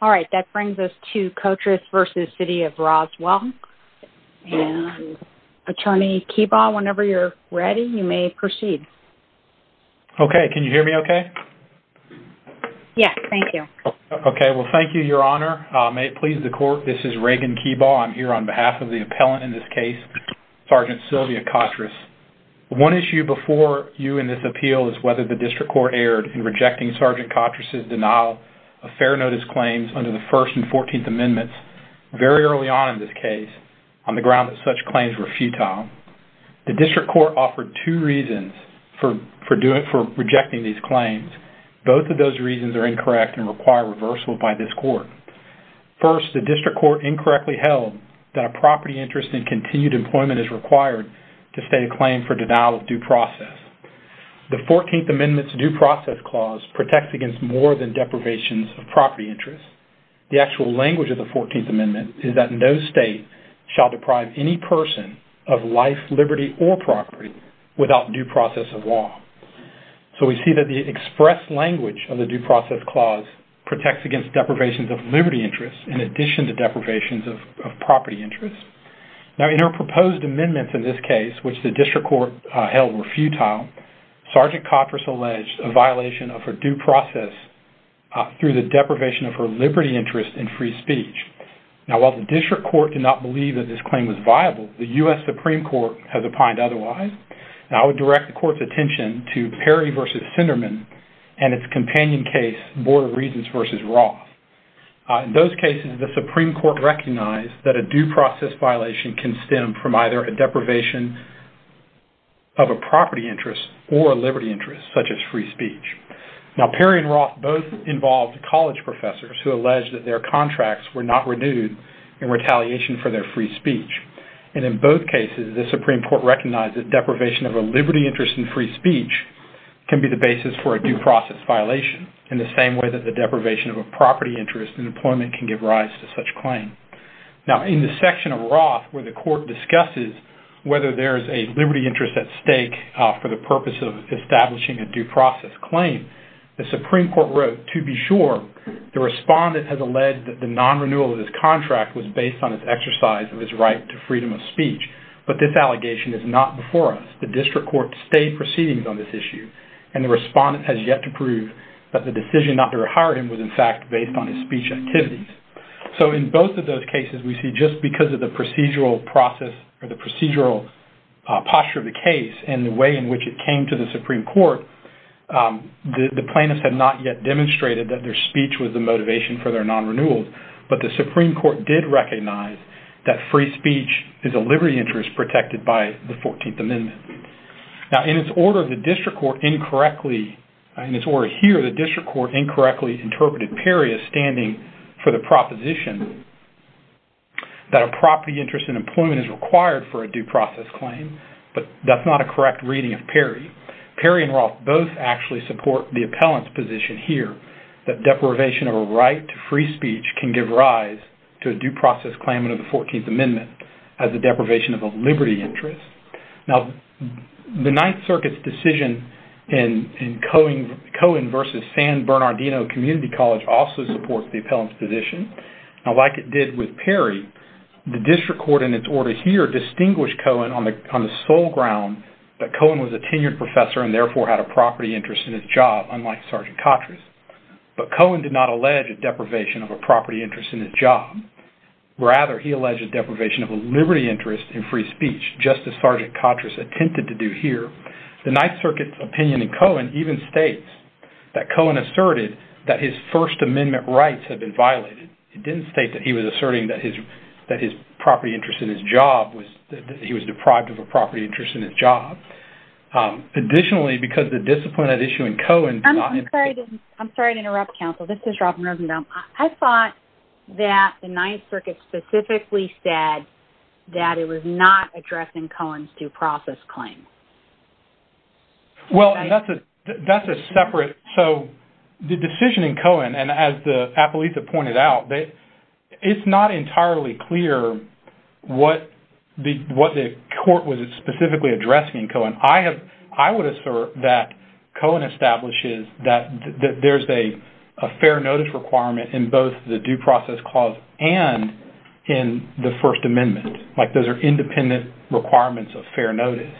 All right, that brings us to Cotriss v. City of Roswell. And Attorney Keebaugh, whenever you're ready, you may proceed. Okay, can you hear me okay? Yes, thank you. Okay, well, thank you, Your Honor. May it please the Court, this is Reagan Keebaugh. I'm here on behalf of the appellant in this case, Sgt. Sylvia Cotriss. One issue before you in this appeal is whether the District Court erred in rejecting Sgt. Cotriss' claims under the First and Fourteenth Amendments very early on in this case on the ground that such claims were futile. The District Court offered two reasons for rejecting these claims. Both of those reasons are incorrect and require reversal by this Court. First, the District Court incorrectly held that a property interest in continued employment is required to state a claim for denial of due process. The Fourteenth Amendment's Due Process Clause protects against more than deprivations of property interest. The actual language of the Fourteenth Amendment is that no state shall deprive any person of life, liberty, or property without due process of law. So we see that the express language of the Due Process Clause protects against deprivations of liberty interest in addition to deprivations of property interest. Now, in her proposed amendments in this case, which the District Court held were futile, Sgt. Cotriss alleged a violation of her due process through the deprivation of her liberty interest in free speech. Now, while the District Court did not believe that this claim was viable, the U.S. Supreme Court has opined otherwise. And I would direct the Court's attention to Perry v. Sinderman and its companion case, Board of Regents v. Ross. In those cases, the Supreme Court recognized that a due process violation can stem from either a deprivation of a property interest or a liberty interest, such as free speech. Now, Perry and Ross both involved college professors who alleged that their contracts were not renewed in retaliation for their free speech. And in both cases, the Supreme Court recognized that deprivation of a liberty interest in free speech can be the basis for a due process violation in the same way that the deprivation of a property interest in employment can give rise to such claim. Now, in the section of Ross, where the Court discusses whether there's a liberty interest at stake for the purpose of establishing a due process claim, the Supreme Court wrote, to be sure, the respondent has alleged that the non-renewal of his contract was based on his exercise of his right to freedom of speech. But this allegation is not before us. The District Court stayed proceedings on this issue, and the respondent has yet to prove that the decision not to hire him was, in fact, based on his speech activities. So in both of those cases, we see just because of the procedural process or the procedural posture of the case and the way in which it came to the Supreme Court, the plaintiffs have not yet demonstrated that their speech was the motivation for their non-renewals. But the Supreme Court did recognize that free speech is a liberty interest protected by the 14th Amendment. Now, in its order, the District Court incorrectly, in its order here, the District Court incorrectly interpreted Perry as standing for the proposition that a property interest in employment is required for a due process claim. But that's not a correct reading of Perry. Perry and Ross both actually support the appellant's position here that deprivation of a right to free speech can give rise to a due process claim under the 14th Amendment as a deprivation of a liberty interest. Now, the Ninth Circuit's decision in Cohen versus San Bernardino Community College also supports the appellant's position. Now, like it did with Perry, the District Court, in its order here, distinguished Cohen on the sole ground that Cohen was a tenured professor and therefore had a property interest in his job, unlike Sergeant Kotras. But Cohen did not allege a deprivation of a property interest in his job. Rather, he alleged a deprivation of a liberty interest in his job, as Sergeant Kotras attempted to do here. The Ninth Circuit's opinion in Cohen even states that Cohen asserted that his First Amendment rights had been violated. It didn't state that he was asserting that his property interest in his job was, that he was deprived of a property interest in his job. Additionally, because the discipline at issue in Cohen... I'm sorry to interrupt, counsel. This is Robin Rosenbaum. I thought that the Ninth Circuit specifically said that it was not addressing Cohen's due process claim. Well, and that's a separate... So, the decision in Cohen, and as the appellees have pointed out, it's not entirely clear what the court was specifically addressing in Cohen. I would assert that Cohen establishes that there's a fair notice requirement in both the due process clause and in the First Amendment. Like, those are independent requirements of fair notice.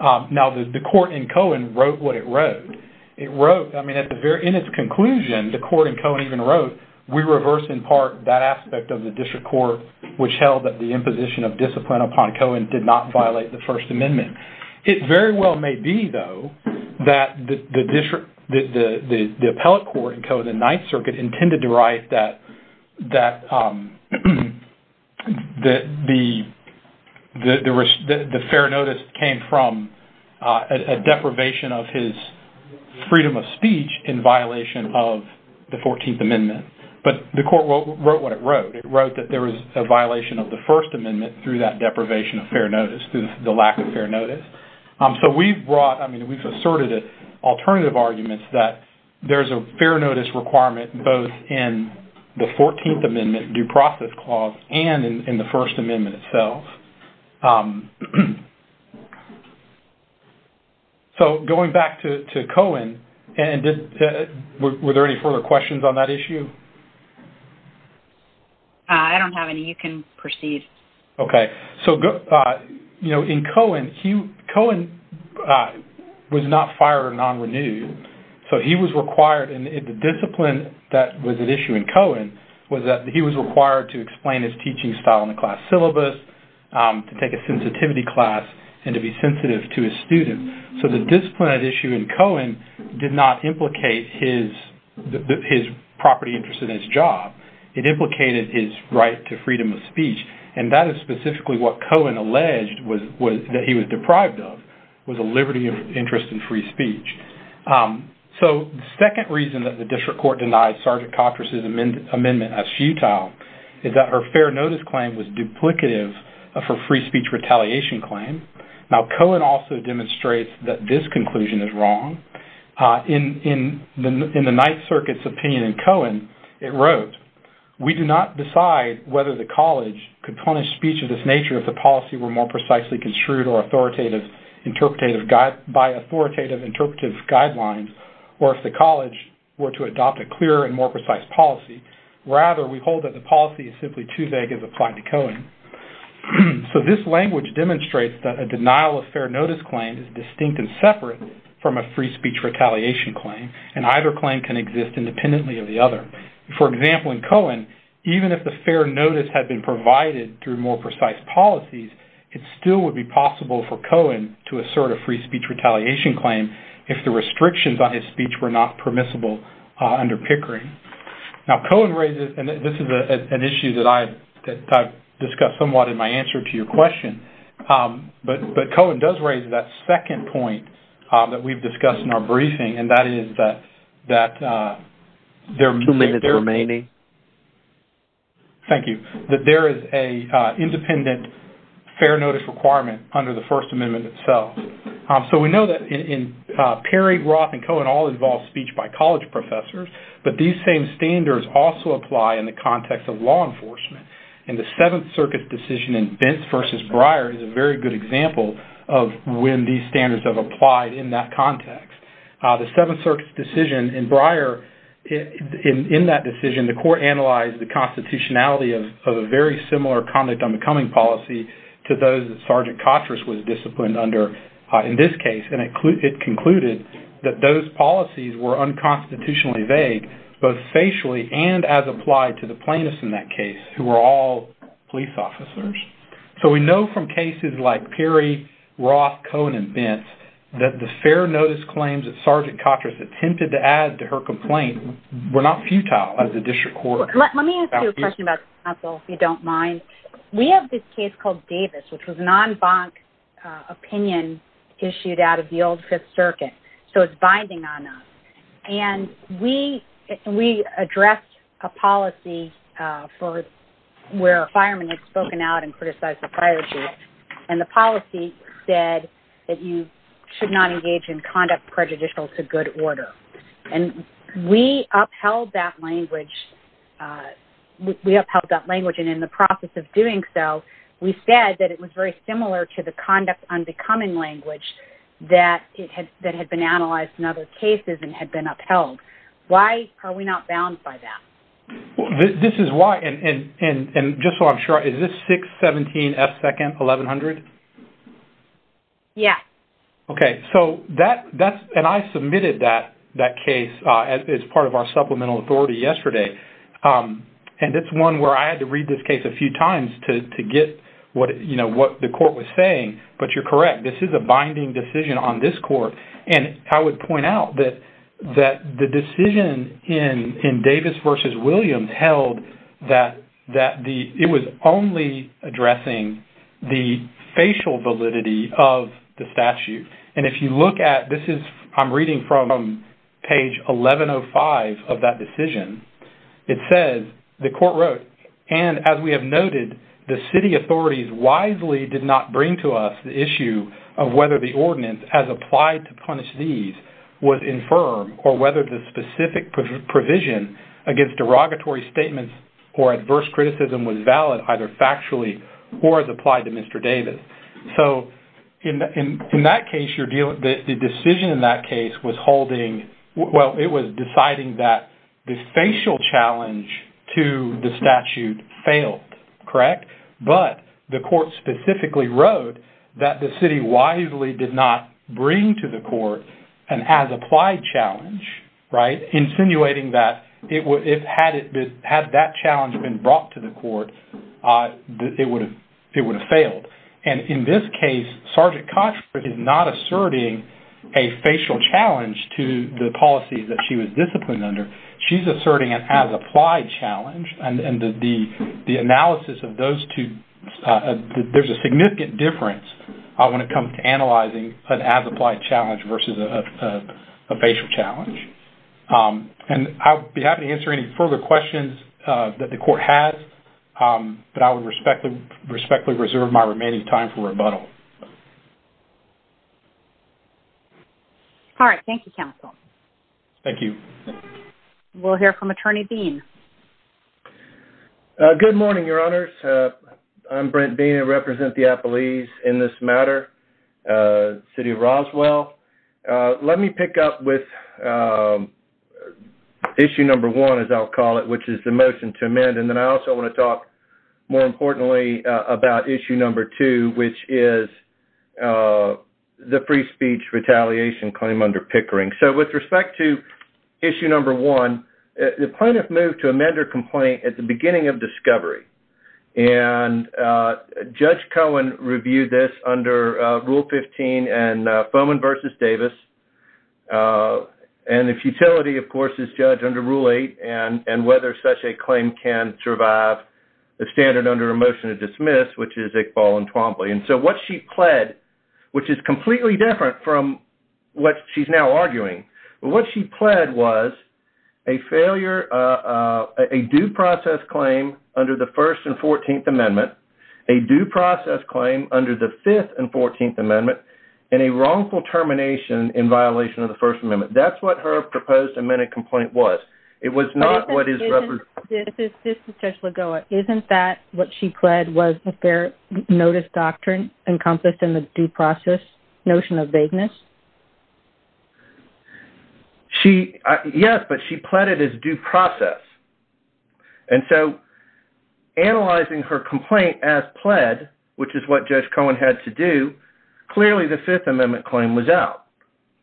Now, the court in Cohen wrote what it wrote. It wrote, I mean, in its conclusion, the court in Cohen even wrote, we reverse in part that aspect of the district court, which held that the imposition of discipline upon Cohen did not violate the First Amendment. It very well may be, though, that the district, the appellate court in Cohen, the Ninth Circuit intended to write that the fair notice came from a deprivation of his freedom of speech in violation of the 14th Amendment. But the court wrote what it wrote. It wrote that there was a violation of the First Amendment through that deprivation of fair notice, through the lack of fair notice. So, we've brought, I mean, we've asserted alternative arguments that there's a fair notice requirement both in the 14th Amendment due process clause and in the First Amendment itself. So, going back to Cohen, were there any further questions on that issue? I don't have any. You can proceed. Okay. So, you know, in Cohen, Cohen was not fired or non-renewed. So, he was required, and the discipline that was at issue in Cohen was that he was required to explain his teaching style in the class syllabus, to take a sensitivity class, and to be sensitive to his students. So, the discipline at issue in Cohen did not implicate his property interest in his job. It implicated his right to freedom of speech. And that is specifically what Cohen alleged that he was deprived of, was a liberty of interest in free speech. So, the second reason that the district court denied Sergeant Cotras' amendment as futile is that her fair notice claim was duplicative of her free speech retaliation claim. Now, Cohen also demonstrates that this conclusion is wrong. In the Ninth Circuit's opinion in Cohen, it wrote, we do not decide whether the college could punish speech of this nature if the policy were more precisely construed by authoritative interpretive guidelines, or if the college were to adopt a clearer and more precise policy. Rather, we hold that the policy is simply too vague as applied to Cohen. So, this language demonstrates that a denial of fair notice claim is distinct and separate from a free speech retaliation claim, and either claim can exist independently of the other. For example, in Cohen, even if the fair notice had been provided through more precise policies, it still would be possible for Cohen to assert a free speech retaliation claim if the restrictions on his speech were not permissible under Pickering. Now, Cohen raises, and this is an issue that I've discussed somewhat in my answer to your question, but Cohen does raise that second point that we've discussed in our briefing, and that is that there... Two minutes remaining. Thank you. That there is an independent fair notice requirement under the First Amendment itself. So, we know that Perry, Roth, and Cohen all involve speech by college professors, but these same standards also apply in the context of law enforcement. And the Seventh Circuit's decision in Vince v. Breyer is a very good example of when these standards have applied in that decision. The court analyzed the constitutionality of a very similar conduct on the Cumming policy to those that Sergeant Kotras was disciplined under in this case, and it concluded that those policies were unconstitutionally vague, both facially and as applied to the plaintiffs in that case who were all police officers. So, we know from cases like Perry, Roth, Cohen, and we're not futile as a district court. Let me ask you a question about the council, if you don't mind. We have this case called Davis, which was a non-bank opinion issued out of the old Fifth Circuit, so it's binding on us. And we addressed a policy where a fireman had spoken out and criticized the fire chief, and the policy said that you should not engage in conduct prejudicial to good order. And we upheld that language, and in the process of doing so, we said that it was very similar to the conduct on the Cumming language that had been analyzed in other cases and had been upheld. Why are we not bound by that? This is why, and just so I'm sure, is this 617 F. Second, 1100? Yeah. Okay. So, that's, and I submitted that case as part of our supplemental authority yesterday, and it's one where I had to read this case a few times to get what, you know, what the court was saying, but you're correct. This is a binding decision on this court, and I would point out that the decision in Davis versus Williams held that it was only addressing the facial validity of the statute. And if you look at, this is, I'm reading from page 1105 of that decision. It says, the court wrote, and as we have noted, the city authorities wisely did not bring to us the issue of whether the ordinance as applied to punish these was infirm or whether the specific provision against derogatory statements or adverse criticism was valid either factually or as applied to Mr. Davis. So, in that case, you're dealing, the decision in that case was holding, well, it was deciding that the facial challenge to the statute failed, correct? But the court specifically wrote that the city wisely did not bring to the court an as-applied challenge, right, insinuating that it would, had that challenge been brought to the court, it would have failed. And in this case, Sgt. Kochberg is not asserting a facial challenge to the policy that she was disciplined under. She's asserting an as-applied challenge, and the analysis of those two, there's a significant difference when it comes to analyzing an as-applied challenge versus a facial challenge. And I'll be happy to answer any further questions that the court has, but I would respectfully reserve my remaining time for rebuttal. All right. Thank you, counsel. Thank you. We'll hear from Attorney Dean. Good morning, Your Honors. I'm Brent Beene, I represent the appellees in this matter, City of Roswell. Let me pick up with issue number one, as I'll call it, which is the motion to amend, and then I also want to talk, more importantly, about issue number two, which is the free speech retaliation claim under Pickering. So, with respect to issue number one, the plaintiff moved to amend her complaint at the beginning of discovery, and Judge Cohen reviewed this under Rule 15 and Foman v. Davis, and the futility, of course, is judged under Rule 8, and whether such a claim can survive the standard under a motion to dismiss, which is Iqbal and Twombly. And so, what she pled, which is completely different from what she's now arguing, but what she pled was a failure, a due process claim under the 1st and 14th Amendment, a due process claim under the 5th and 14th Amendment, and a wrongful termination in violation of the 1st Amendment. That's what her proposed amended complaint was. It was not what is referenced. This is Judge Lagoa. Isn't that what she pled was the fair notice doctrine encompassed in the due process notion of vagueness? Yes, but she pled it as due process. And so, analyzing her complaint as pled, which is what Judge Cohen had to do, clearly the 5th Amendment claim was out,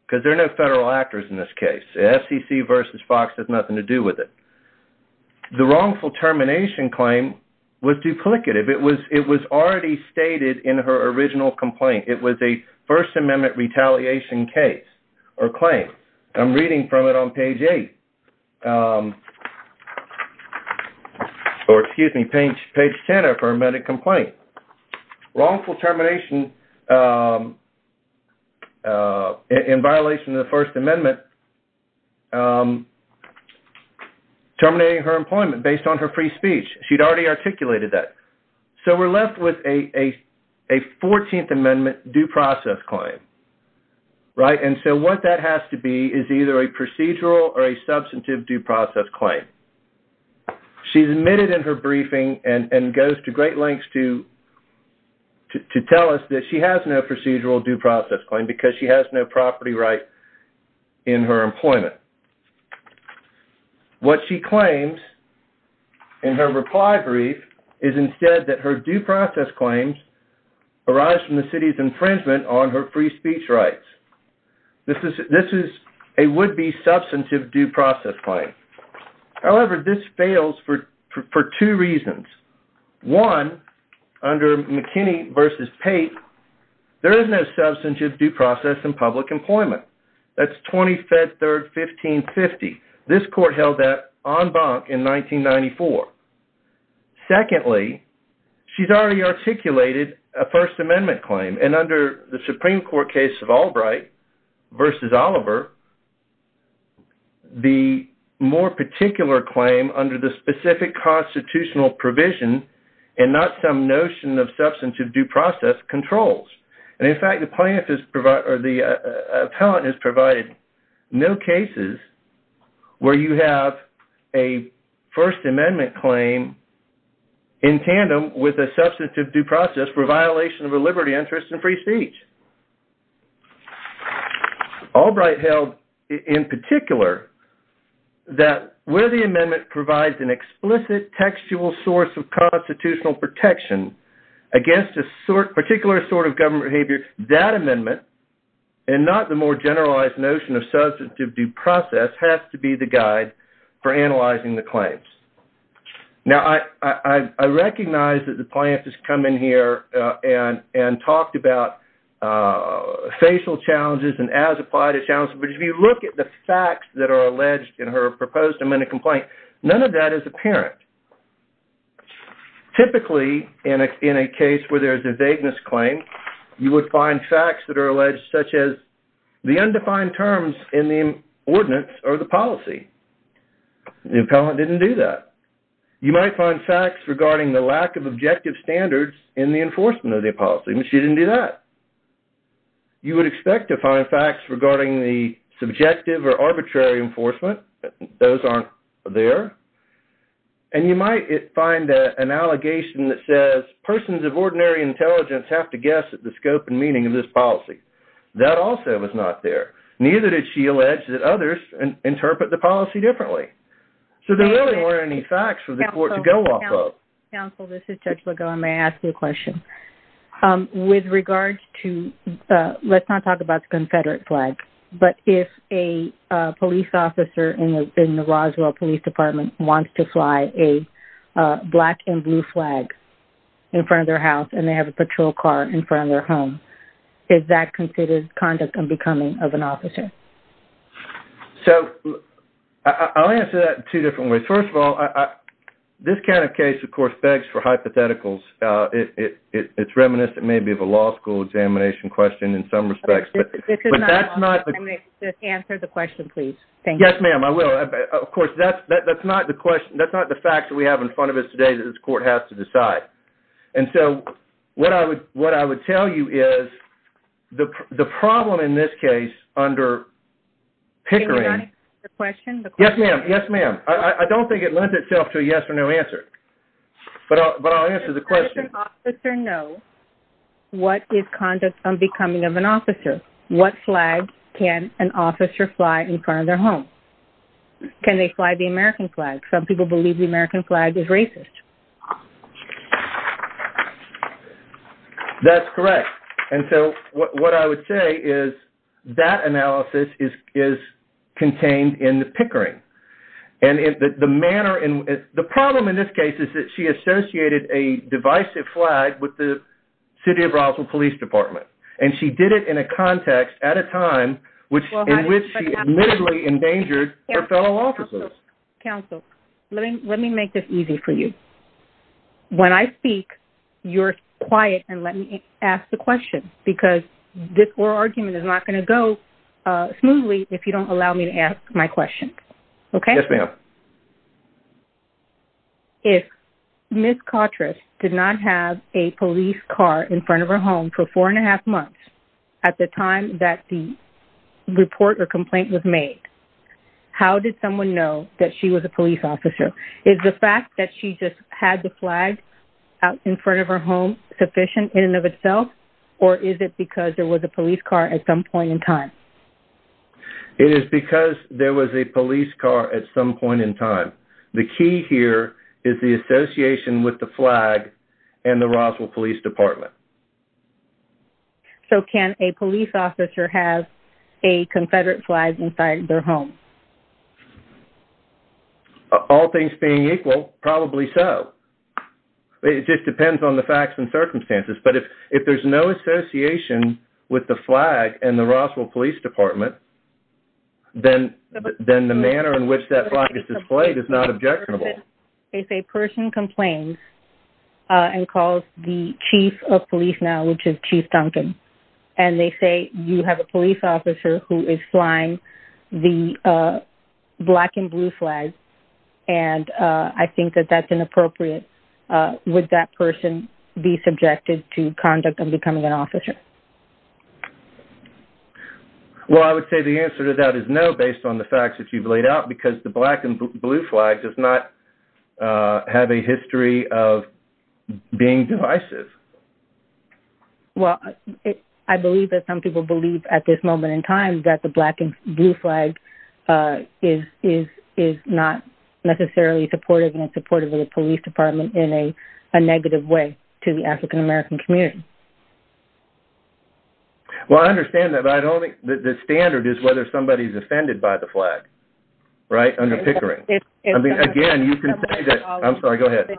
because there are no federal actors in this case. The SEC v. Fox has nothing to do with it. The wrongful termination claim was duplicative. It was already stated in her original complaint. It was a 1st Amendment retaliation case or claim. I'm reading from it on page 8, or excuse me, page 10 of her amended complaint. Wrongful termination in violation of the 1st Amendment, terminating her employment based on her free speech. She'd already articulated that. So, we're left with a 14th Amendment due process claim. And so, what that has to be is either a procedural or a substantive due process claim. She's admitted in her briefing and goes to great lengths to tell us that she has no procedural due process claim, because she has no property right in her employment. What she claims in her reply brief is instead that her due process claims arise from the city's infringement on her free speech rights. This is a would-be substantive due process claim. However, this fails for two reasons. One, under McKinney v. Pate, there is no substantive due process in public employment. That's 20-3-1550. This court held that en banc in 1994. Secondly, she's already articulated a 1st Amendment claim. And under the Supreme Court case of Albright v. Oliver, the more particular claim under the specific constitutional provision and not some notion of substantive due process controls. And in fact, the appellant has provided no cases where you have a 1st Amendment claim in tandem with a substantive due process for violation of a liberty, interest, and free speech. Albright held, in particular, that where the amendment provides an explicit textual source of constitutional protection against a particular sort of government behavior, that amendment, and not the more generalized notion of substantive due process, has to be the guide for analyzing the claims. Now, I recognize that the plaintiff has come in here and talked about facial challenges and as-applied challenges, but if you look at the facts that are alleged in her proposed amendment complaint, none of that is apparent. Typically, in a case where there is a vagueness claim, you would find facts that are alleged, such as the undefined terms in the ordinance or the policy. The appellant didn't do that. You might find facts regarding the lack of you would expect to find facts regarding the subjective or arbitrary enforcement. Those aren't there. And you might find an allegation that says persons of ordinary intelligence have to guess at the scope and meaning of this policy. That also was not there. Neither did she allege that others interpret the policy differently. So, there really weren't any facts for the court to let's not talk about the confederate flag, but if a police officer in the Roswell Police Department wants to fly a black and blue flag in front of their house and they have a patrol car in front of their home, is that considered conduct and becoming of an officer? So, I'll answer that in two different ways. First of all, this kind of case, of course, begs for hypotheticals. It's reminiscent maybe of a law school examination question in some respects. This is not a law school examination. Just answer the question, please. Yes, ma'am, I will. Of course, that's not the fact that we have in front of us today that this court has to decide. And so, what I would tell you is the problem in this case under Pickering. Yes, ma'am. Yes, ma'am. I don't think it lends itself to a yes or no answer. But I'll answer the question. Does an officer know what is conduct and becoming of an officer? What flag can an officer fly in front of their home? Can they fly the American flag? Some people believe the American flag is racist. That's correct. And so, what I would say is that analysis is contained in the Pickering. And the problem in this case is that she associated a divisive flag with the City of Roswell Police Department. And she did it in a context at a time in which she admittedly endangered her fellow officers. Counsel, let me make this easy for you. When I speak, you're quiet and let me ask the question because this oral argument is not going to go smoothly if you don't allow me to ask my question. Okay? Yes, ma'am. If Ms. Kotras did not have a police car in front of her home for four and a half months at the time that the report or complaint was made, how did someone know that she was a police officer? Is the fact that she just had the flag out in front of her home sufficient in and of itself? Or is it because there was a police car at some point in time? It is because there was a police car at some point in time. The key here is the association with the flag and the Roswell Police Department. So, can a police officer have a Confederate flag inside their home? All things being equal, probably so. It just depends on the facts and circumstances. But if there's no association with the flag and the Roswell Police Department, then the manner in which that flag is displayed is not objectionable. If a person complains and calls the chief of police now, which is Chief Duncan, and they say, you have a police officer who is flying the black and blue flags, and I think that that's inappropriate, would that person be subjected to conduct of becoming an officer? Well, I would say the answer to that is no, based on the facts that you've laid out, because the black and blue flag does not have a history of being divisive. Well, I believe that some people believe at this moment in time that the black and blue flag is not necessarily supportive and supportive of the police department in a negative way to the African American community. Well, I understand that, but I don't think the standard is whether somebody's offended by the flag, right, under Pickering. I mean, again, you can say that- I'm sorry, go ahead.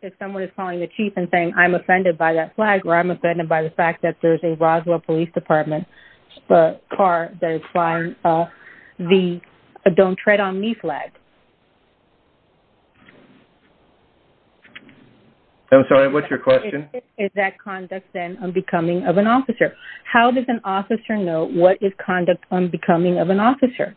If someone is calling the chief and saying, I'm offended by that flag, or I'm offended by the fact that there's a Roswell Police Department car that is flying the don't tread on me flag. I'm sorry, what's your question? Is that conduct, then, of becoming of an officer? How does an officer know what is conduct on becoming of an officer?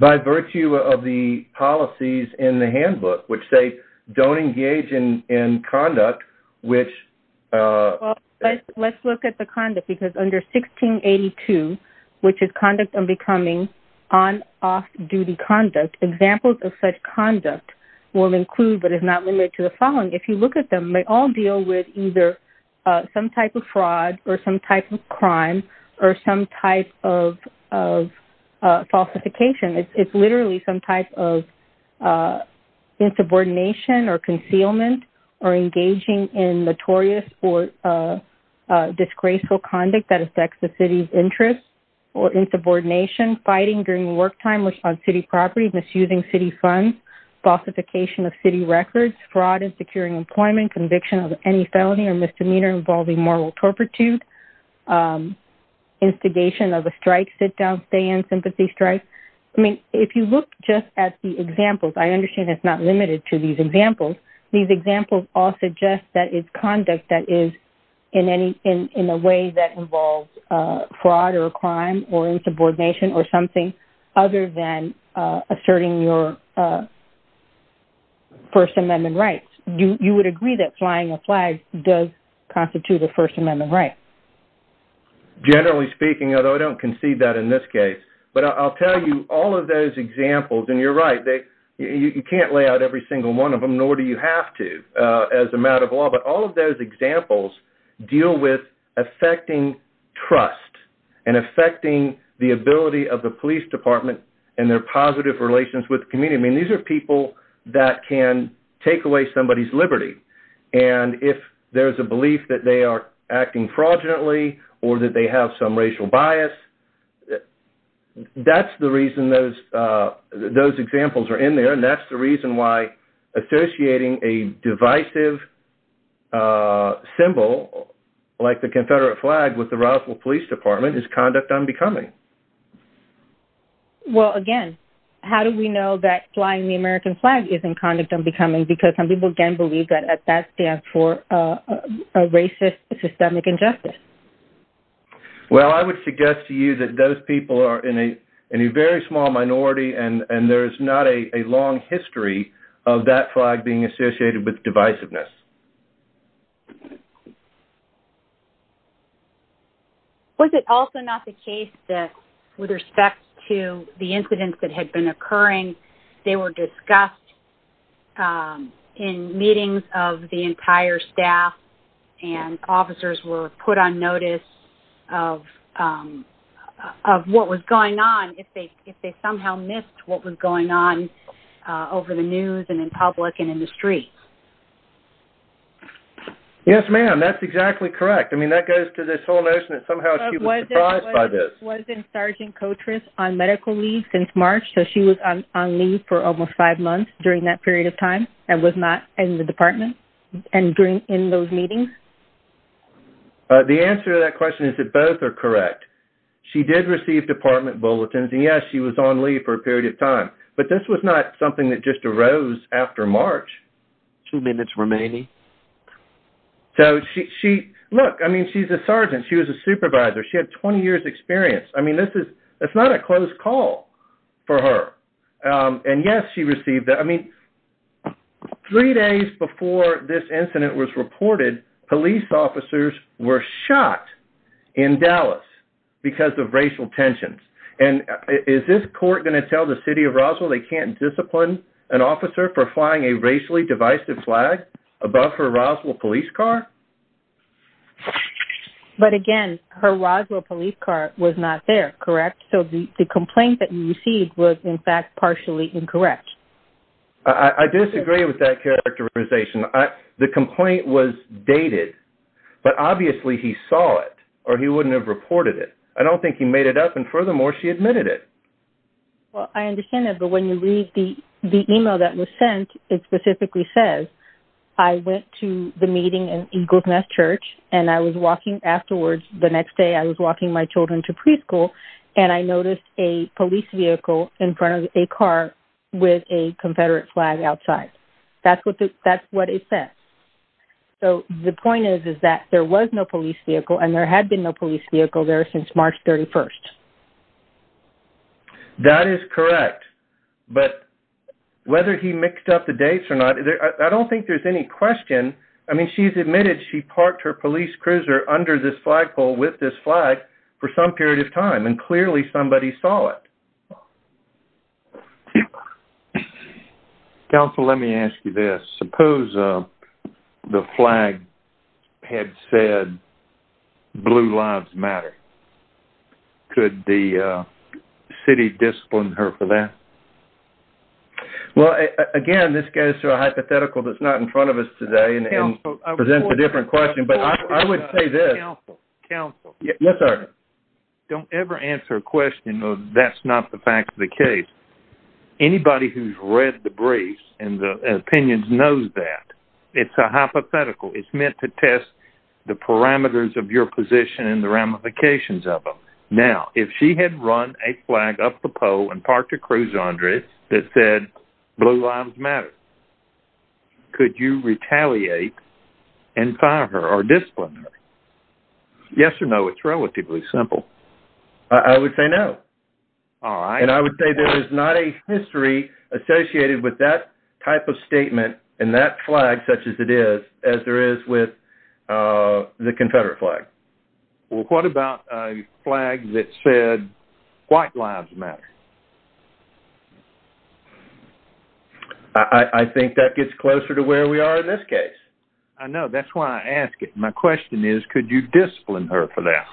By virtue of the policies in the handbook, which say don't engage in conduct, which- Let's look at the conduct, because under 1682, which is conduct on becoming on off-duty conduct, examples of such conduct will include, but is not limited to the following. If you look at them, they all deal with either some type of fraud or some type of crime or some type of falsification. It's literally some type of insubordination or concealment or engaging in notorious or disgraceful conduct that affects the city's interests or insubordination, fighting during work time on city property, misusing city funds, falsification of city records, fraud in securing employment, conviction of any felony or misdemeanor involving moral turpitude, instigation of a strike, sit-down, stay-in, sympathy strike. I mean, if you look just at the examples, I understand it's not limited to these examples. These examples all suggest that it's conduct that is in a way that involves fraud or crime or insubordination or something other than asserting your First Amendment rights. You would agree that flying a flag does constitute a First Amendment right? Generally speaking, although I don't concede that in this case, but I'll tell you all of those examples, and you're right, you can't lay out every single one of them, nor do you have to as a matter of law, but all of those examples deal with affecting trust and affecting the ability of the police department and their positive relations with the community. I mean, these are people that can take away somebody's liberty, and if there's a belief that they are acting fraudulently or that they have some racial bias, that's the reason those examples are in there, and that's the reason why associating a divisive symbol like the Confederate flag with the Roswell Police Department is conduct unbecoming. Well, again, how do we know that flying the American flag isn't conduct unbecoming? Because some people, again, believe that that stands for a racist systemic injustice. Well, I would suggest to you that those people are in a very small minority, and there's not a long history of that flag being associated with divisiveness. Was it also not the case that with respect to the incidents that had been occurring, they were discussed in meetings of the entire staff and officers were put on notice of what was going on if they somehow missed what was going on over the news and in public and in the streets? Yes, ma'am, that's exactly correct. I mean, that goes to this whole notion that somehow she was surprised by this. Was Sergeant Kotras on medical leave since March? So, she was on leave for almost five months during that period of time and was not in the department and in those meetings? The answer to that question is that both are correct. She did receive department bulletins, and yes, she was on leave for a period of time, but this was not something that just arose after March. Two minutes remaining. So, she, look, I mean, she's a sergeant. She was a supervisor. She had 20 years experience. I mean, this is, it's not a close call for her. And yes, she received that. I mean, three days before this incident was reported, police officers were shot in Dallas because of racial tensions. And is this court going to tell the city of Roswell they can't discipline an officer for flying a racially divisive flag above her Roswell police car? But again, her Roswell police car was not there, correct? So, the complaint that you received was, in fact, partially incorrect. I disagree with that characterization. The complaint was dated, but obviously he saw it, or he wouldn't have reported it. I don't think he made it up, and furthermore, she admitted it. Well, I understand that, but when you read the email that was sent, it specifically says, I went to the meeting in Eagle's Nest Church, and I was walking afterwards. The next day, I was walking my children to preschool, and I noticed a police vehicle in front of a car with a Confederate flag outside. That's what it said. So, the point is, is that there was no police vehicle, and there had been no police vehicle there since March 31st. That is correct, but whether he mixed up the dates or not, I don't think there's any question. I mean, she's admitted she parked her police cruiser under this flagpole with this flag for some period of time, and clearly somebody saw it. Counsel, let me ask you this. Suppose the flag had said, Blue Lives Matter. Could the city discipline her for that? Well, again, this goes to a hypothetical that's not in front of us today, and presents a different question, but I would say this. Counsel, counsel. Yes, sir. Don't ever answer a question of, that's not the fact of the case. Anybody who's read the briefs and the opinions knows that. It's a hypothetical. It's meant to ramifications of them. Now, if she had run a flag up the pole and parked her cruiser under it that said, Blue Lives Matter, could you retaliate and fire her or discipline her? Yes or no, it's relatively simple. I would say no. All right. And I would say there is not a history associated with that type of statement and that flag such as it is, as there is with the Confederate flag. Well, what about a flag that said, White Lives Matter? I think that gets closer to where we are in this case. I know. That's why I ask it. My question is, could you discipline her for that?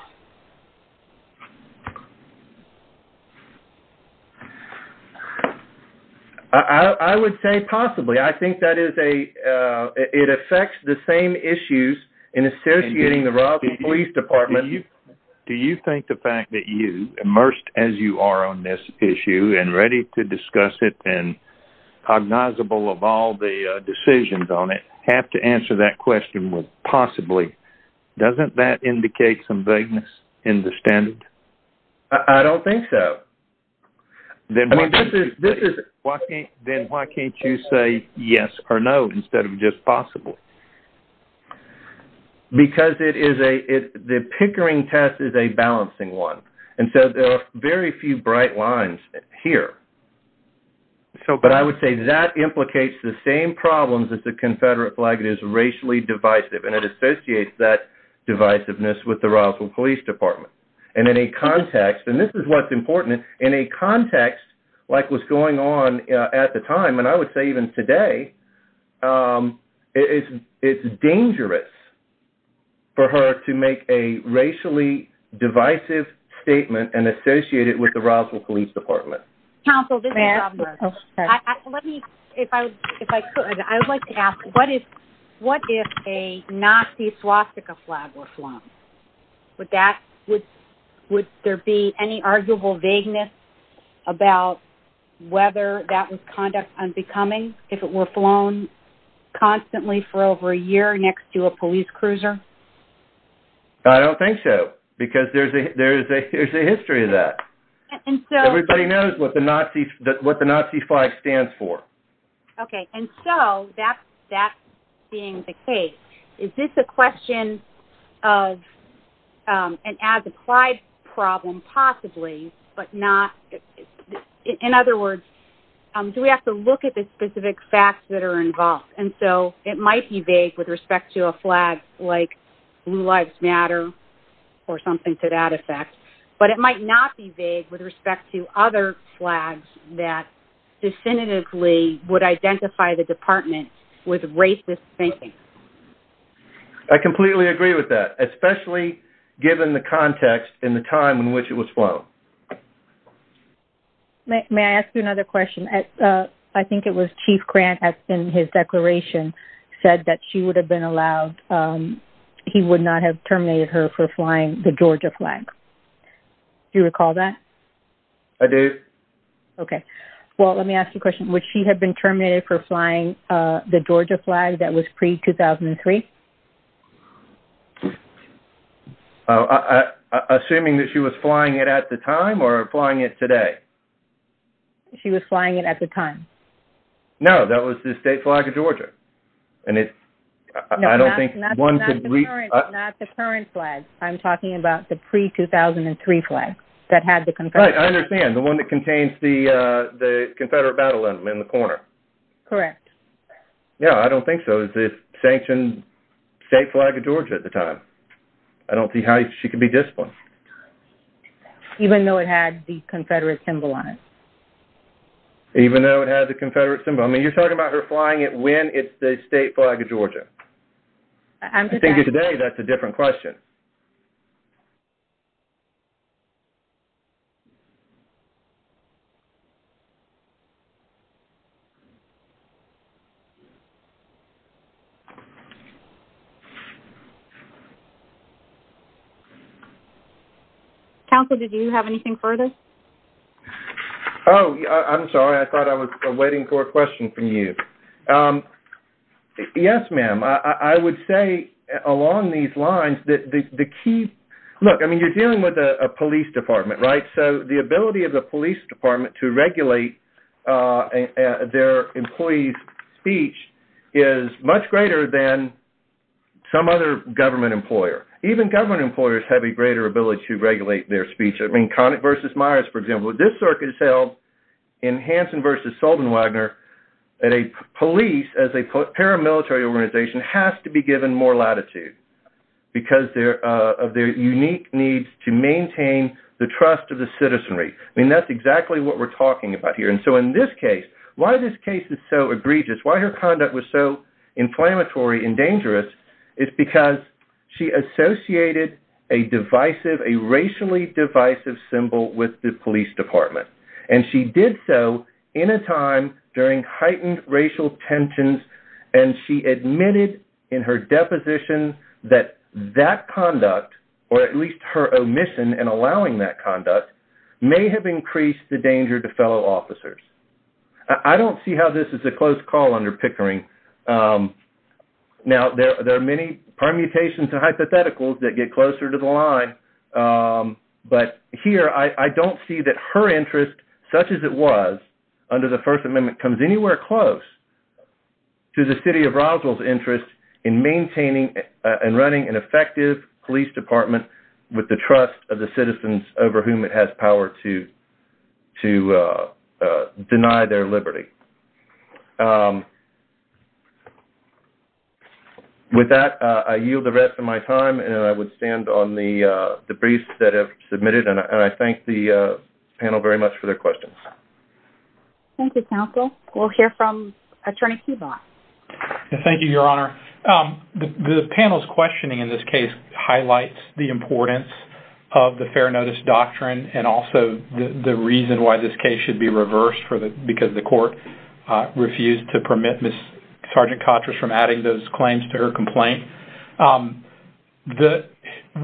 I would say possibly. I think that is a, it affects the same issues in associating the Royalty Police Department. Do you think the fact that you, immersed as you are on this issue and ready to discuss it and cognizable of all the decisions on it, have to answer that question with possibly, doesn't that indicate some vagueness in the standard? I don't think so. Then why can't you say yes or no instead of just possibly? Because it is a, the pickering test is a balancing one. And so there are very few bright lines here. So, but I would say that implicates the same problems as the Confederate flag is racially divisive and it associates that divisiveness with the Royalty Police Department. And in a context, and this is what's important, in a context like what's going on at the time, and I would say even today, it's dangerous for her to make a racially divisive statement and associate it with the Roswell Police Department. Counsel, this is Rob. Let me, if I could, I would like to ask, what if a Nazi swastika flag was becoming, if it were flown constantly for over a year next to a police cruiser? I don't think so, because there's a, there's a, there's a history of that. Everybody knows what the Nazi, what the Nazi flag stands for. Okay. And so that's, that's being the case. Is this a question of, and as a Clyde problem, possibly, but not, in other words, do we have to look at the specific facts that are involved? And so it might be vague with respect to a flag like Blue Lives Matter or something to that effect, but it might not be vague with respect to other flags that definitively would identify the department with racist thinking. I completely agree with that, especially given the context in the time in which it was flown. May I ask you another question? I think it was Chief Grant in his declaration said that she would have been allowed, he would not have terminated her for flying the Georgia flag. Do you recall that? I do. Okay. Well, let me ask you a question. Would she have been terminated for flying the Georgia flag that was pre-2003? Assuming that she was flying it at the time or flying it today? She was flying it at the time. No, that was the state flag of Georgia. And it's, I don't think one could read- No, not the current, not the current flag. I'm talking about the pre-2003 flag that had the confederate- Right, I understand. The one that contains the, the confederate battle anthem in the corner. Correct. Yeah, I don't think so. It was the sanctioned state flag of Georgia at the time. I don't see how she could be disciplined. Even though it had the confederate symbol on it? Even though it had the confederate symbol. I mean, you're talking about her flying it when it's the state flag of Georgia. I think today that's a different question. Counsel, did you have anything further? Oh, I'm sorry. I thought I was waiting for a question from you. Yes, ma'am. I would say along these lines that the key- look, I mean, you're dealing with a police department, right? So the ability of the police department to regulate their employees' speech is much greater than some other government employer. Even government employers have a greater ability to regulate their speech. I mean, Conant v. Myers, for example, this circuit is held in Hansen v. Soldenwagner that a police, as a paramilitary organization, has to be given more latitude because of their unique need to maintain the trust of the citizenry. I mean, that's exactly what we're talking about here. And so in this case, why this case is so egregious, why her conduct was so inflammatory and dangerous is because she associated a divisive, a racially divisive symbol with the police department. And she did so in a time during heightened racial tensions, and she admitted in her deposition that that conduct, or at least her omission in allowing that conduct, may have increased the danger to fellow officers. I don't see how this is a close call under Pickering. Now, there are many permutations and hypotheticals that get closer to the line, but here I don't see that her interest, such as it was under the First Amendment, comes anywhere close to the city of Roswell's interest in maintaining and running an effective police department with the trust of the citizens over whom it has power to deny their liberty. With that, I yield the rest of my time, and I would stand on the briefs that have submitted, and I thank the panel very much for their questions. Thank you, counsel. We'll hear from Attorney Kubot. Thank you, Your Honor. The panel's questioning in this case highlights the importance of the fair notice doctrine and also the reason why this case should be reversed because the court refused to permit Ms. Sgt. Kotras from adding those claims to her complaint.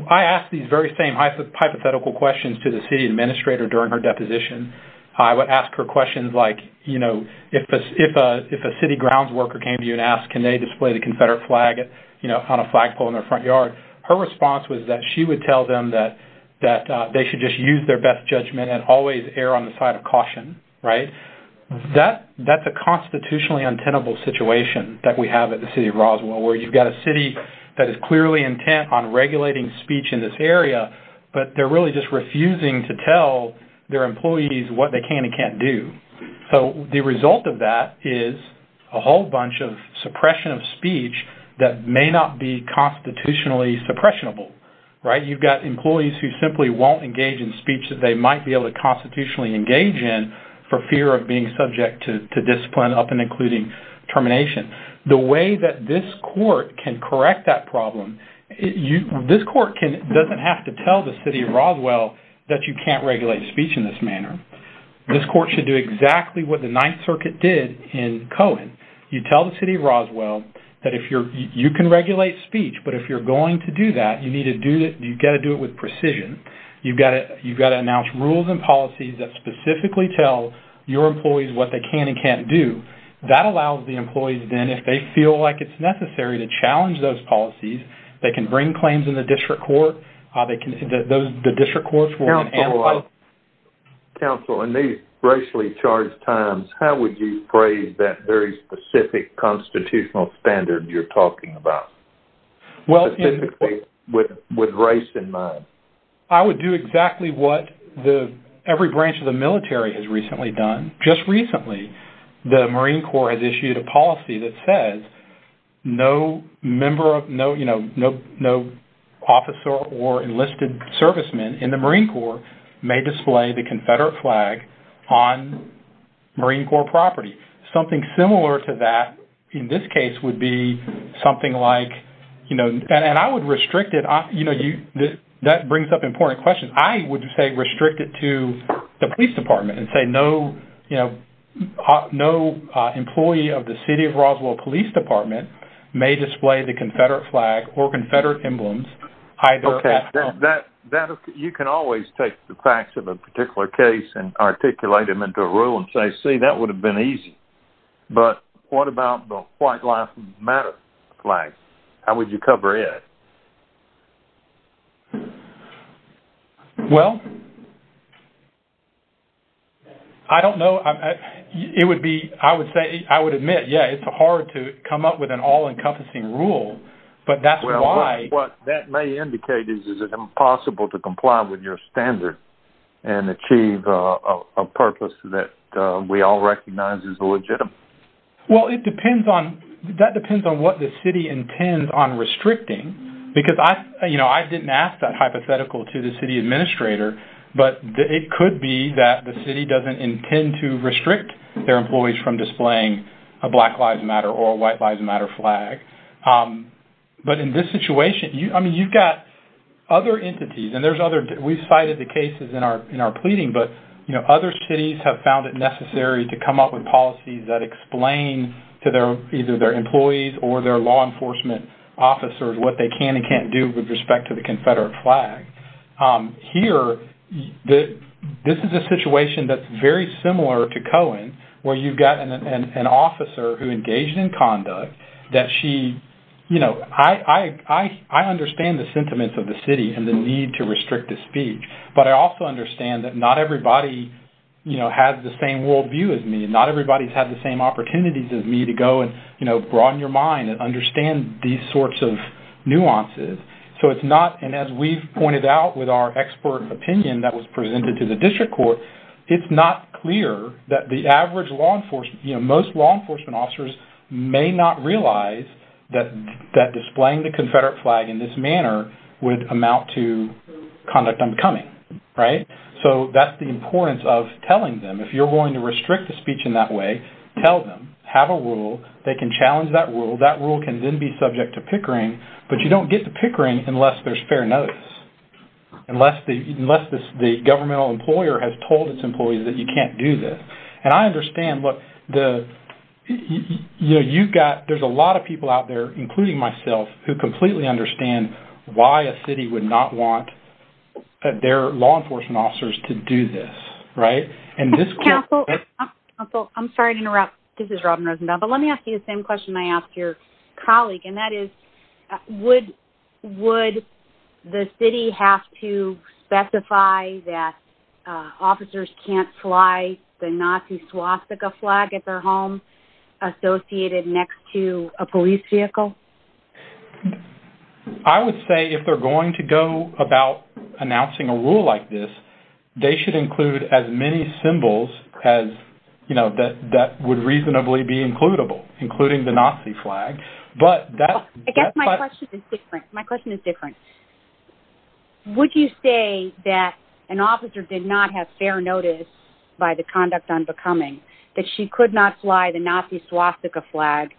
I asked these very same hypothetical questions to the city administrator during her deposition. I would ask her questions like, you know, if a city grounds worker came to you and asked, can they display the Confederate flag, you know, on a flagpole in their front yard, her response was that she would tell them that they should just use their best judgment and always err on the side of caution, right? That's a constitutionally untenable situation that we have at the city of Roswell, where you've got a city that is clearly intent on regulating speech in this area, but they're really just refusing to tell their employees what they can and can't do. So the result of that is a whole bunch of suppression of speech that may not be constitutionally suppressionable, right? You've got employees who simply won't engage in speech that they might be able to constitutionally engage in for fear of being subject to discipline, up and including termination. The way that this court can correct that problem, this court doesn't have to tell the city of Roswell that you can't regulate speech in this manner. This court should do exactly what the Ninth Circuit did in Cohen. You tell the city of Roswell that you can regulate speech, but if you're going to do that, you've got to do it with precision. You've got to announce rules and policies that specifically tell your employees what they can and can't do. That allows the employees, then, if they feel like it's necessary to challenge those policies, they can bring claims in the district court. The district courts will- Counsel, in these racially charged times, how would you phrase that very specific constitutional standard you're talking about, specifically with race in mind? I would do exactly what every branch of the military has recently done. Just recently, the Marine Corps has issued a policy that says no officer or enlisted servicemen in the Marine Corps may display the Confederate flag on Marine Corps property. Something similar to that, in this case, would be something like- That brings up an important question. I would say restrict it to the police department and say no employee of the city of Roswell Police Department may display the Confederate flag or Confederate emblems either at home- You can always take the facts of a particular case and articulate them into a rule and say, that would have been easy. But what about the white life matter flag? How would you cover it? Well, I don't know. I would admit, yes, it's hard to come up with an all-encompassing rule, but that's why- Well, what that may indicate is that it's impossible to comply with your standard and achieve a purpose that we all recognize is legitimate. Well, that depends on what the city intends on restricting, because I didn't ask that hypothetical to the city administrator, but it could be that the city doesn't intend to restrict their employees from displaying a black lives matter or a white lives matter flag. But in this situation, you've got other entities, and we've cited the cases in our pleading, but other cities have found it necessary to come up with policies that explain to either their employees or their law enforcement officers what they can and can't do with respect to the Confederate flag. Here, this is a situation that's very similar to Cohen, where you've got an officer who engaged in conduct that she- I understand the sentiments of the city and the need to restrict the speech, but I also understand that not everybody has the same worldview as me, and not everybody's had the same opportunities as me to go and broaden your mind and understand these sorts of nuances. And as we've pointed out with our expert opinion that was presented to the district court, it's not clear that the average law enforcement- you know, most law enforcement officers may not realize that displaying the Confederate flag in this manner would amount to conduct unbecoming, right? So that's the importance of telling them. If you're going to restrict the speech in that way, tell them. Have a rule. They can challenge that rule. That rule can then be subject to pickering, but you don't get to pickering unless there's fair notice, unless the governmental employer has told its employees that you can't do this. And I understand what the- you know, you've got- there's a lot of people out there, including myself, who completely understand why a city would not want their law enforcement officers to do this, right? And this- Counsel, I'm sorry to interrupt. This is Robin Rosenbaum, but let me ask you the same question I asked your colleague, and that is, would the city have to specify that officers can't fly the Nazi swastika flag at their home associated next to a police vehicle? I would say if they're going to go about announcing a rule like this, they should include as many but that- I guess my question is different. My question is different. Would you say that an officer did not have fair notice by the conduct unbecoming that she could not fly the Nazi swastika flag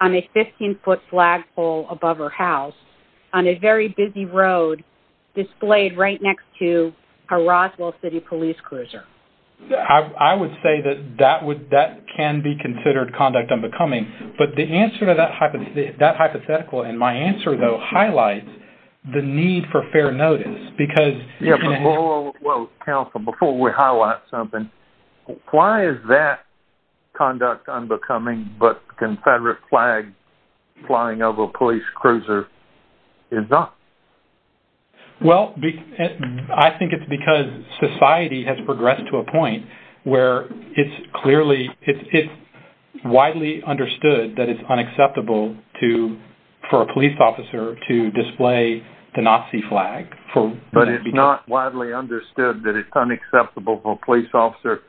on a 15-foot flagpole above her house on a very busy road displayed right next to a Roswell City police cruiser? I would say that that would- that can be considered conduct unbecoming, but the answer to that hypothetical and my answer, though, highlights the need for fair notice because- Yeah, but- well, Counsel, before we highlight something, why is that conduct unbecoming, but Confederate flag flying over a police cruiser is not? Well, I think it's because society has widely understood that it's unacceptable to- for a police officer to display the Nazi flag for- But it's not widely understood that it's unacceptable for a police officer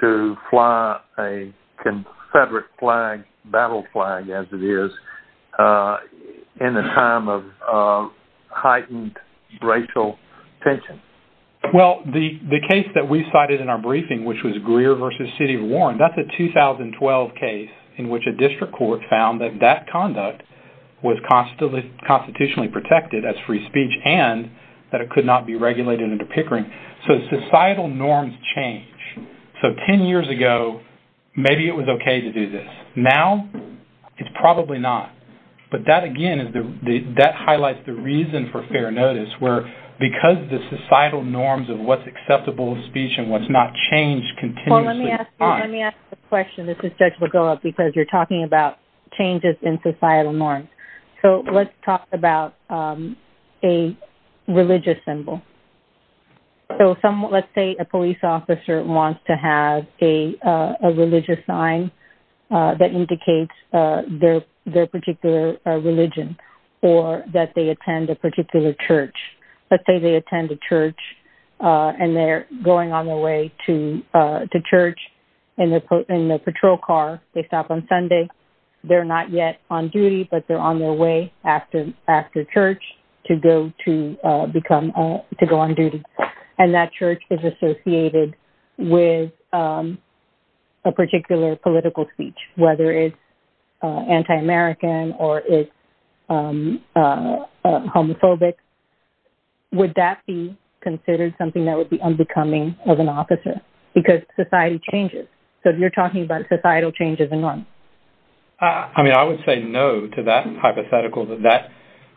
to fly a Confederate flag, battle flag as it is, in a time of heightened racial tension. Well, the case that we cited in our briefing, which was Greer v. City of Warren, that's a 2012 case in which a district court found that that conduct was constitutionally protected as free speech and that it could not be regulated under Pickering. So societal norms change. So 10 years ago, maybe it was okay to do this. Now, it's probably not. But that, again, is the- that norms of what's acceptable speech and what's not changed continuously. Well, let me ask you- let me ask you a question. This is Judge Begoa because you're talking about changes in societal norms. So let's talk about a religious symbol. So someone- let's say a police officer wants to have a religious sign that indicates their particular religion or that they attend a particular church. Let's say they attend a church and they're going on their way to church in the patrol car. They stop on Sunday. They're not yet on duty, but they're on their way after church to go to become- to go on duty. And that church is associated with a particular political speech, whether it's anti-American or it's homophobic. Would that be considered something that would be unbecoming of an officer? Because society changes. So you're talking about societal changes in norms. I mean, I would say no to that hypothetical that that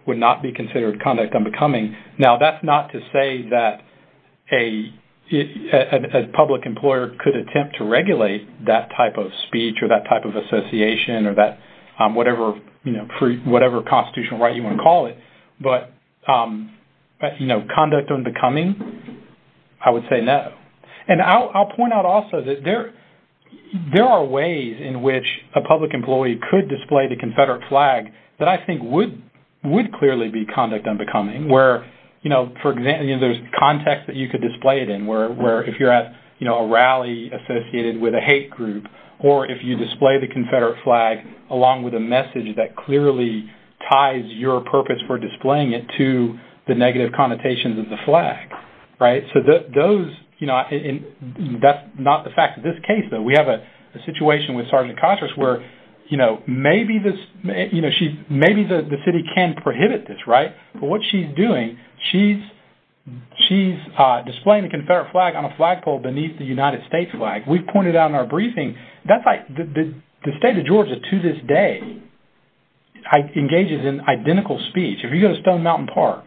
would not be considered conduct unbecoming. Now, that's not to say that a public employer could attempt to regulate that type of speech or that type of association or that whatever constitutional right you want to call it. But conduct unbecoming, I would say no. And I'll point out also that there are ways in which a public employee could display the Confederate flag that I think would clearly be conduct unbecoming, where, you know, for example, there's context that you could display it in, where if you're at, you know, a rally associated with a hate group, or if you display the Confederate flag along with a message that clearly ties your purpose for displaying it to the negative connotations of the flag, right? So those, you know, that's not the fact. In this case, though, we have a maybe the city can prohibit this, right? But what she's doing, she's displaying the Confederate flag on a flagpole beneath the United States flag. We've pointed out in our briefing, that's like the state of Georgia to this day engages in identical speech. If you go to Stone Mountain Park,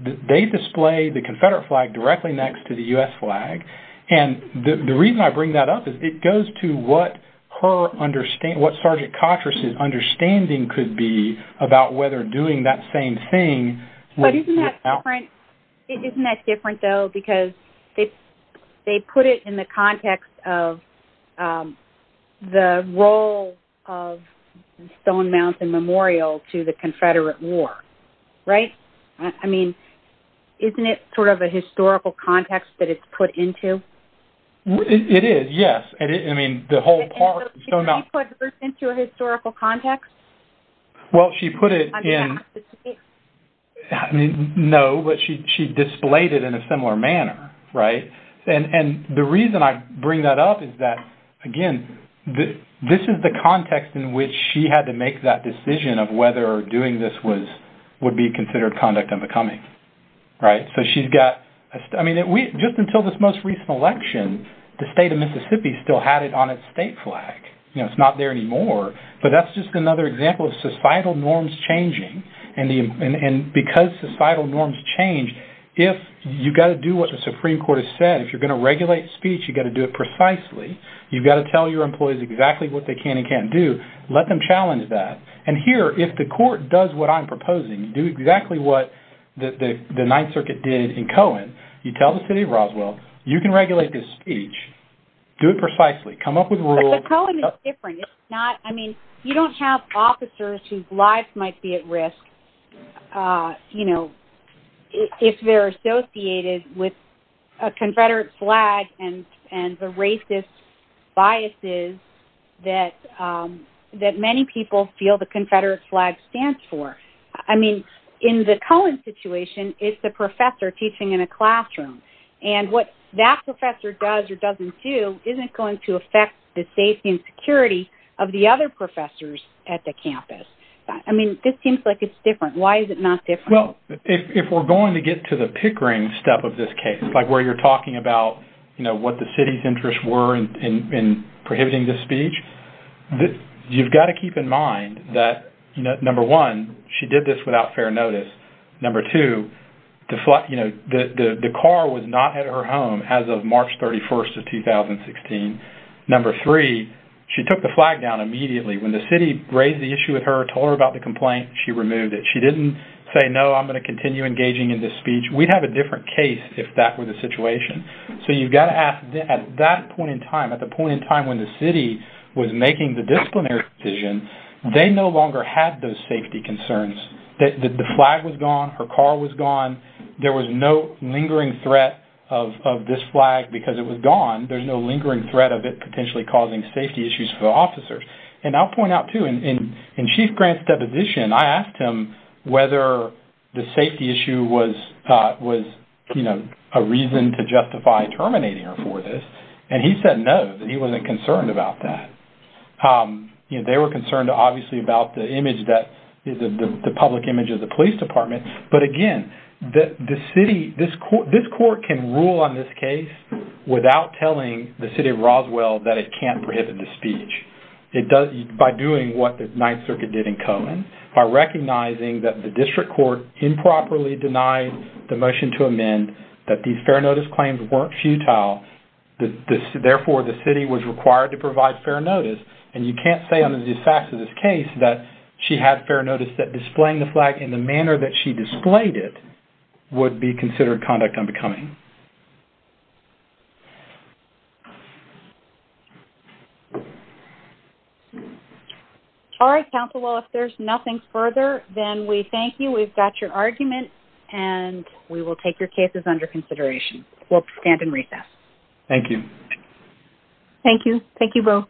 they display the Confederate flag directly next to the US flag. And the reason I could be about whether doing that same thing... But isn't that different? Isn't that different, though, because they put it in the context of the role of Stone Mountain Memorial to the Confederate War, right? I mean, isn't it sort of a historical context that it's put into? It is, yes. I mean, the whole park, Stone Mountain... Put it into a historical context? Well, she put it in... I mean, no, but she displayed it in a similar manner, right? And the reason I bring that up is that, again, this is the context in which she had to make that decision of whether doing this would be considered conduct unbecoming, right? So she's got... I mean, just until this most flag, you know, it's not there anymore. But that's just another example of societal norms changing. And because societal norms change, if you got to do what the Supreme Court has said, if you're going to regulate speech, you got to do it precisely. You've got to tell your employees exactly what they can and can't do. Let them challenge that. And here, if the court does what I'm proposing, do exactly what the Ninth Circuit did in Cohen, you tell the city of Roswell, you can regulate this speech, do it precisely, come up with rules... But Cohen is different. It's not... I mean, you don't have officers whose lives might be at risk, you know, if they're associated with a Confederate flag and the racist biases that many people feel the Confederate flag stands for. I mean, in the Cohen situation, it's the that professor does or doesn't do isn't going to affect the safety and security of the other professors at the campus. I mean, this seems like it's different. Why is it not different? Well, if we're going to get to the pickering step of this case, like where you're talking about, you know, what the city's interests were in prohibiting this speech, you've got to keep in mind that, you know, number one, she did this without fair notice. Number two, you know, the car was not at her home as of March 31st of 2016. Number three, she took the flag down immediately when the city raised the issue with her, told her about the complaint, she removed it. She didn't say, no, I'm going to continue engaging in this speech. We'd have a different case if that were the situation. So you've got to ask at that point in time, at the point in time when the city was making the disciplinary decision, they no longer had those safety concerns. The flag was gone. Her car was gone. There was no lingering threat of this flag because it was gone. There's no lingering threat of it potentially causing safety issues for the officers. And I'll point out too, in Chief Grant's deposition, I asked him whether the safety issue was, you know, a reason to justify terminating her for this. And he said no, that he wasn't concerned about that. You know, they were concerned, obviously, about the image that is the public image of the police department. But again, the city, this court can rule on this case without telling the city of Roswell that it can't prohibit the speech. It does, by doing what the Ninth Circuit did in Cohen, by recognizing that the district court improperly denied the motion to amend, that these fair notice claims weren't futile. Therefore, the city was required to provide fair notice. And you can't say under the facts of this case that she had fair notice that displaying the flag in the manner that she displayed it would be considered conduct unbecoming. All right, counsel, well, if there's nothing further, then we thank you. We've got your consideration. We'll stand in recess. Thank you. Thank you. Thank you both.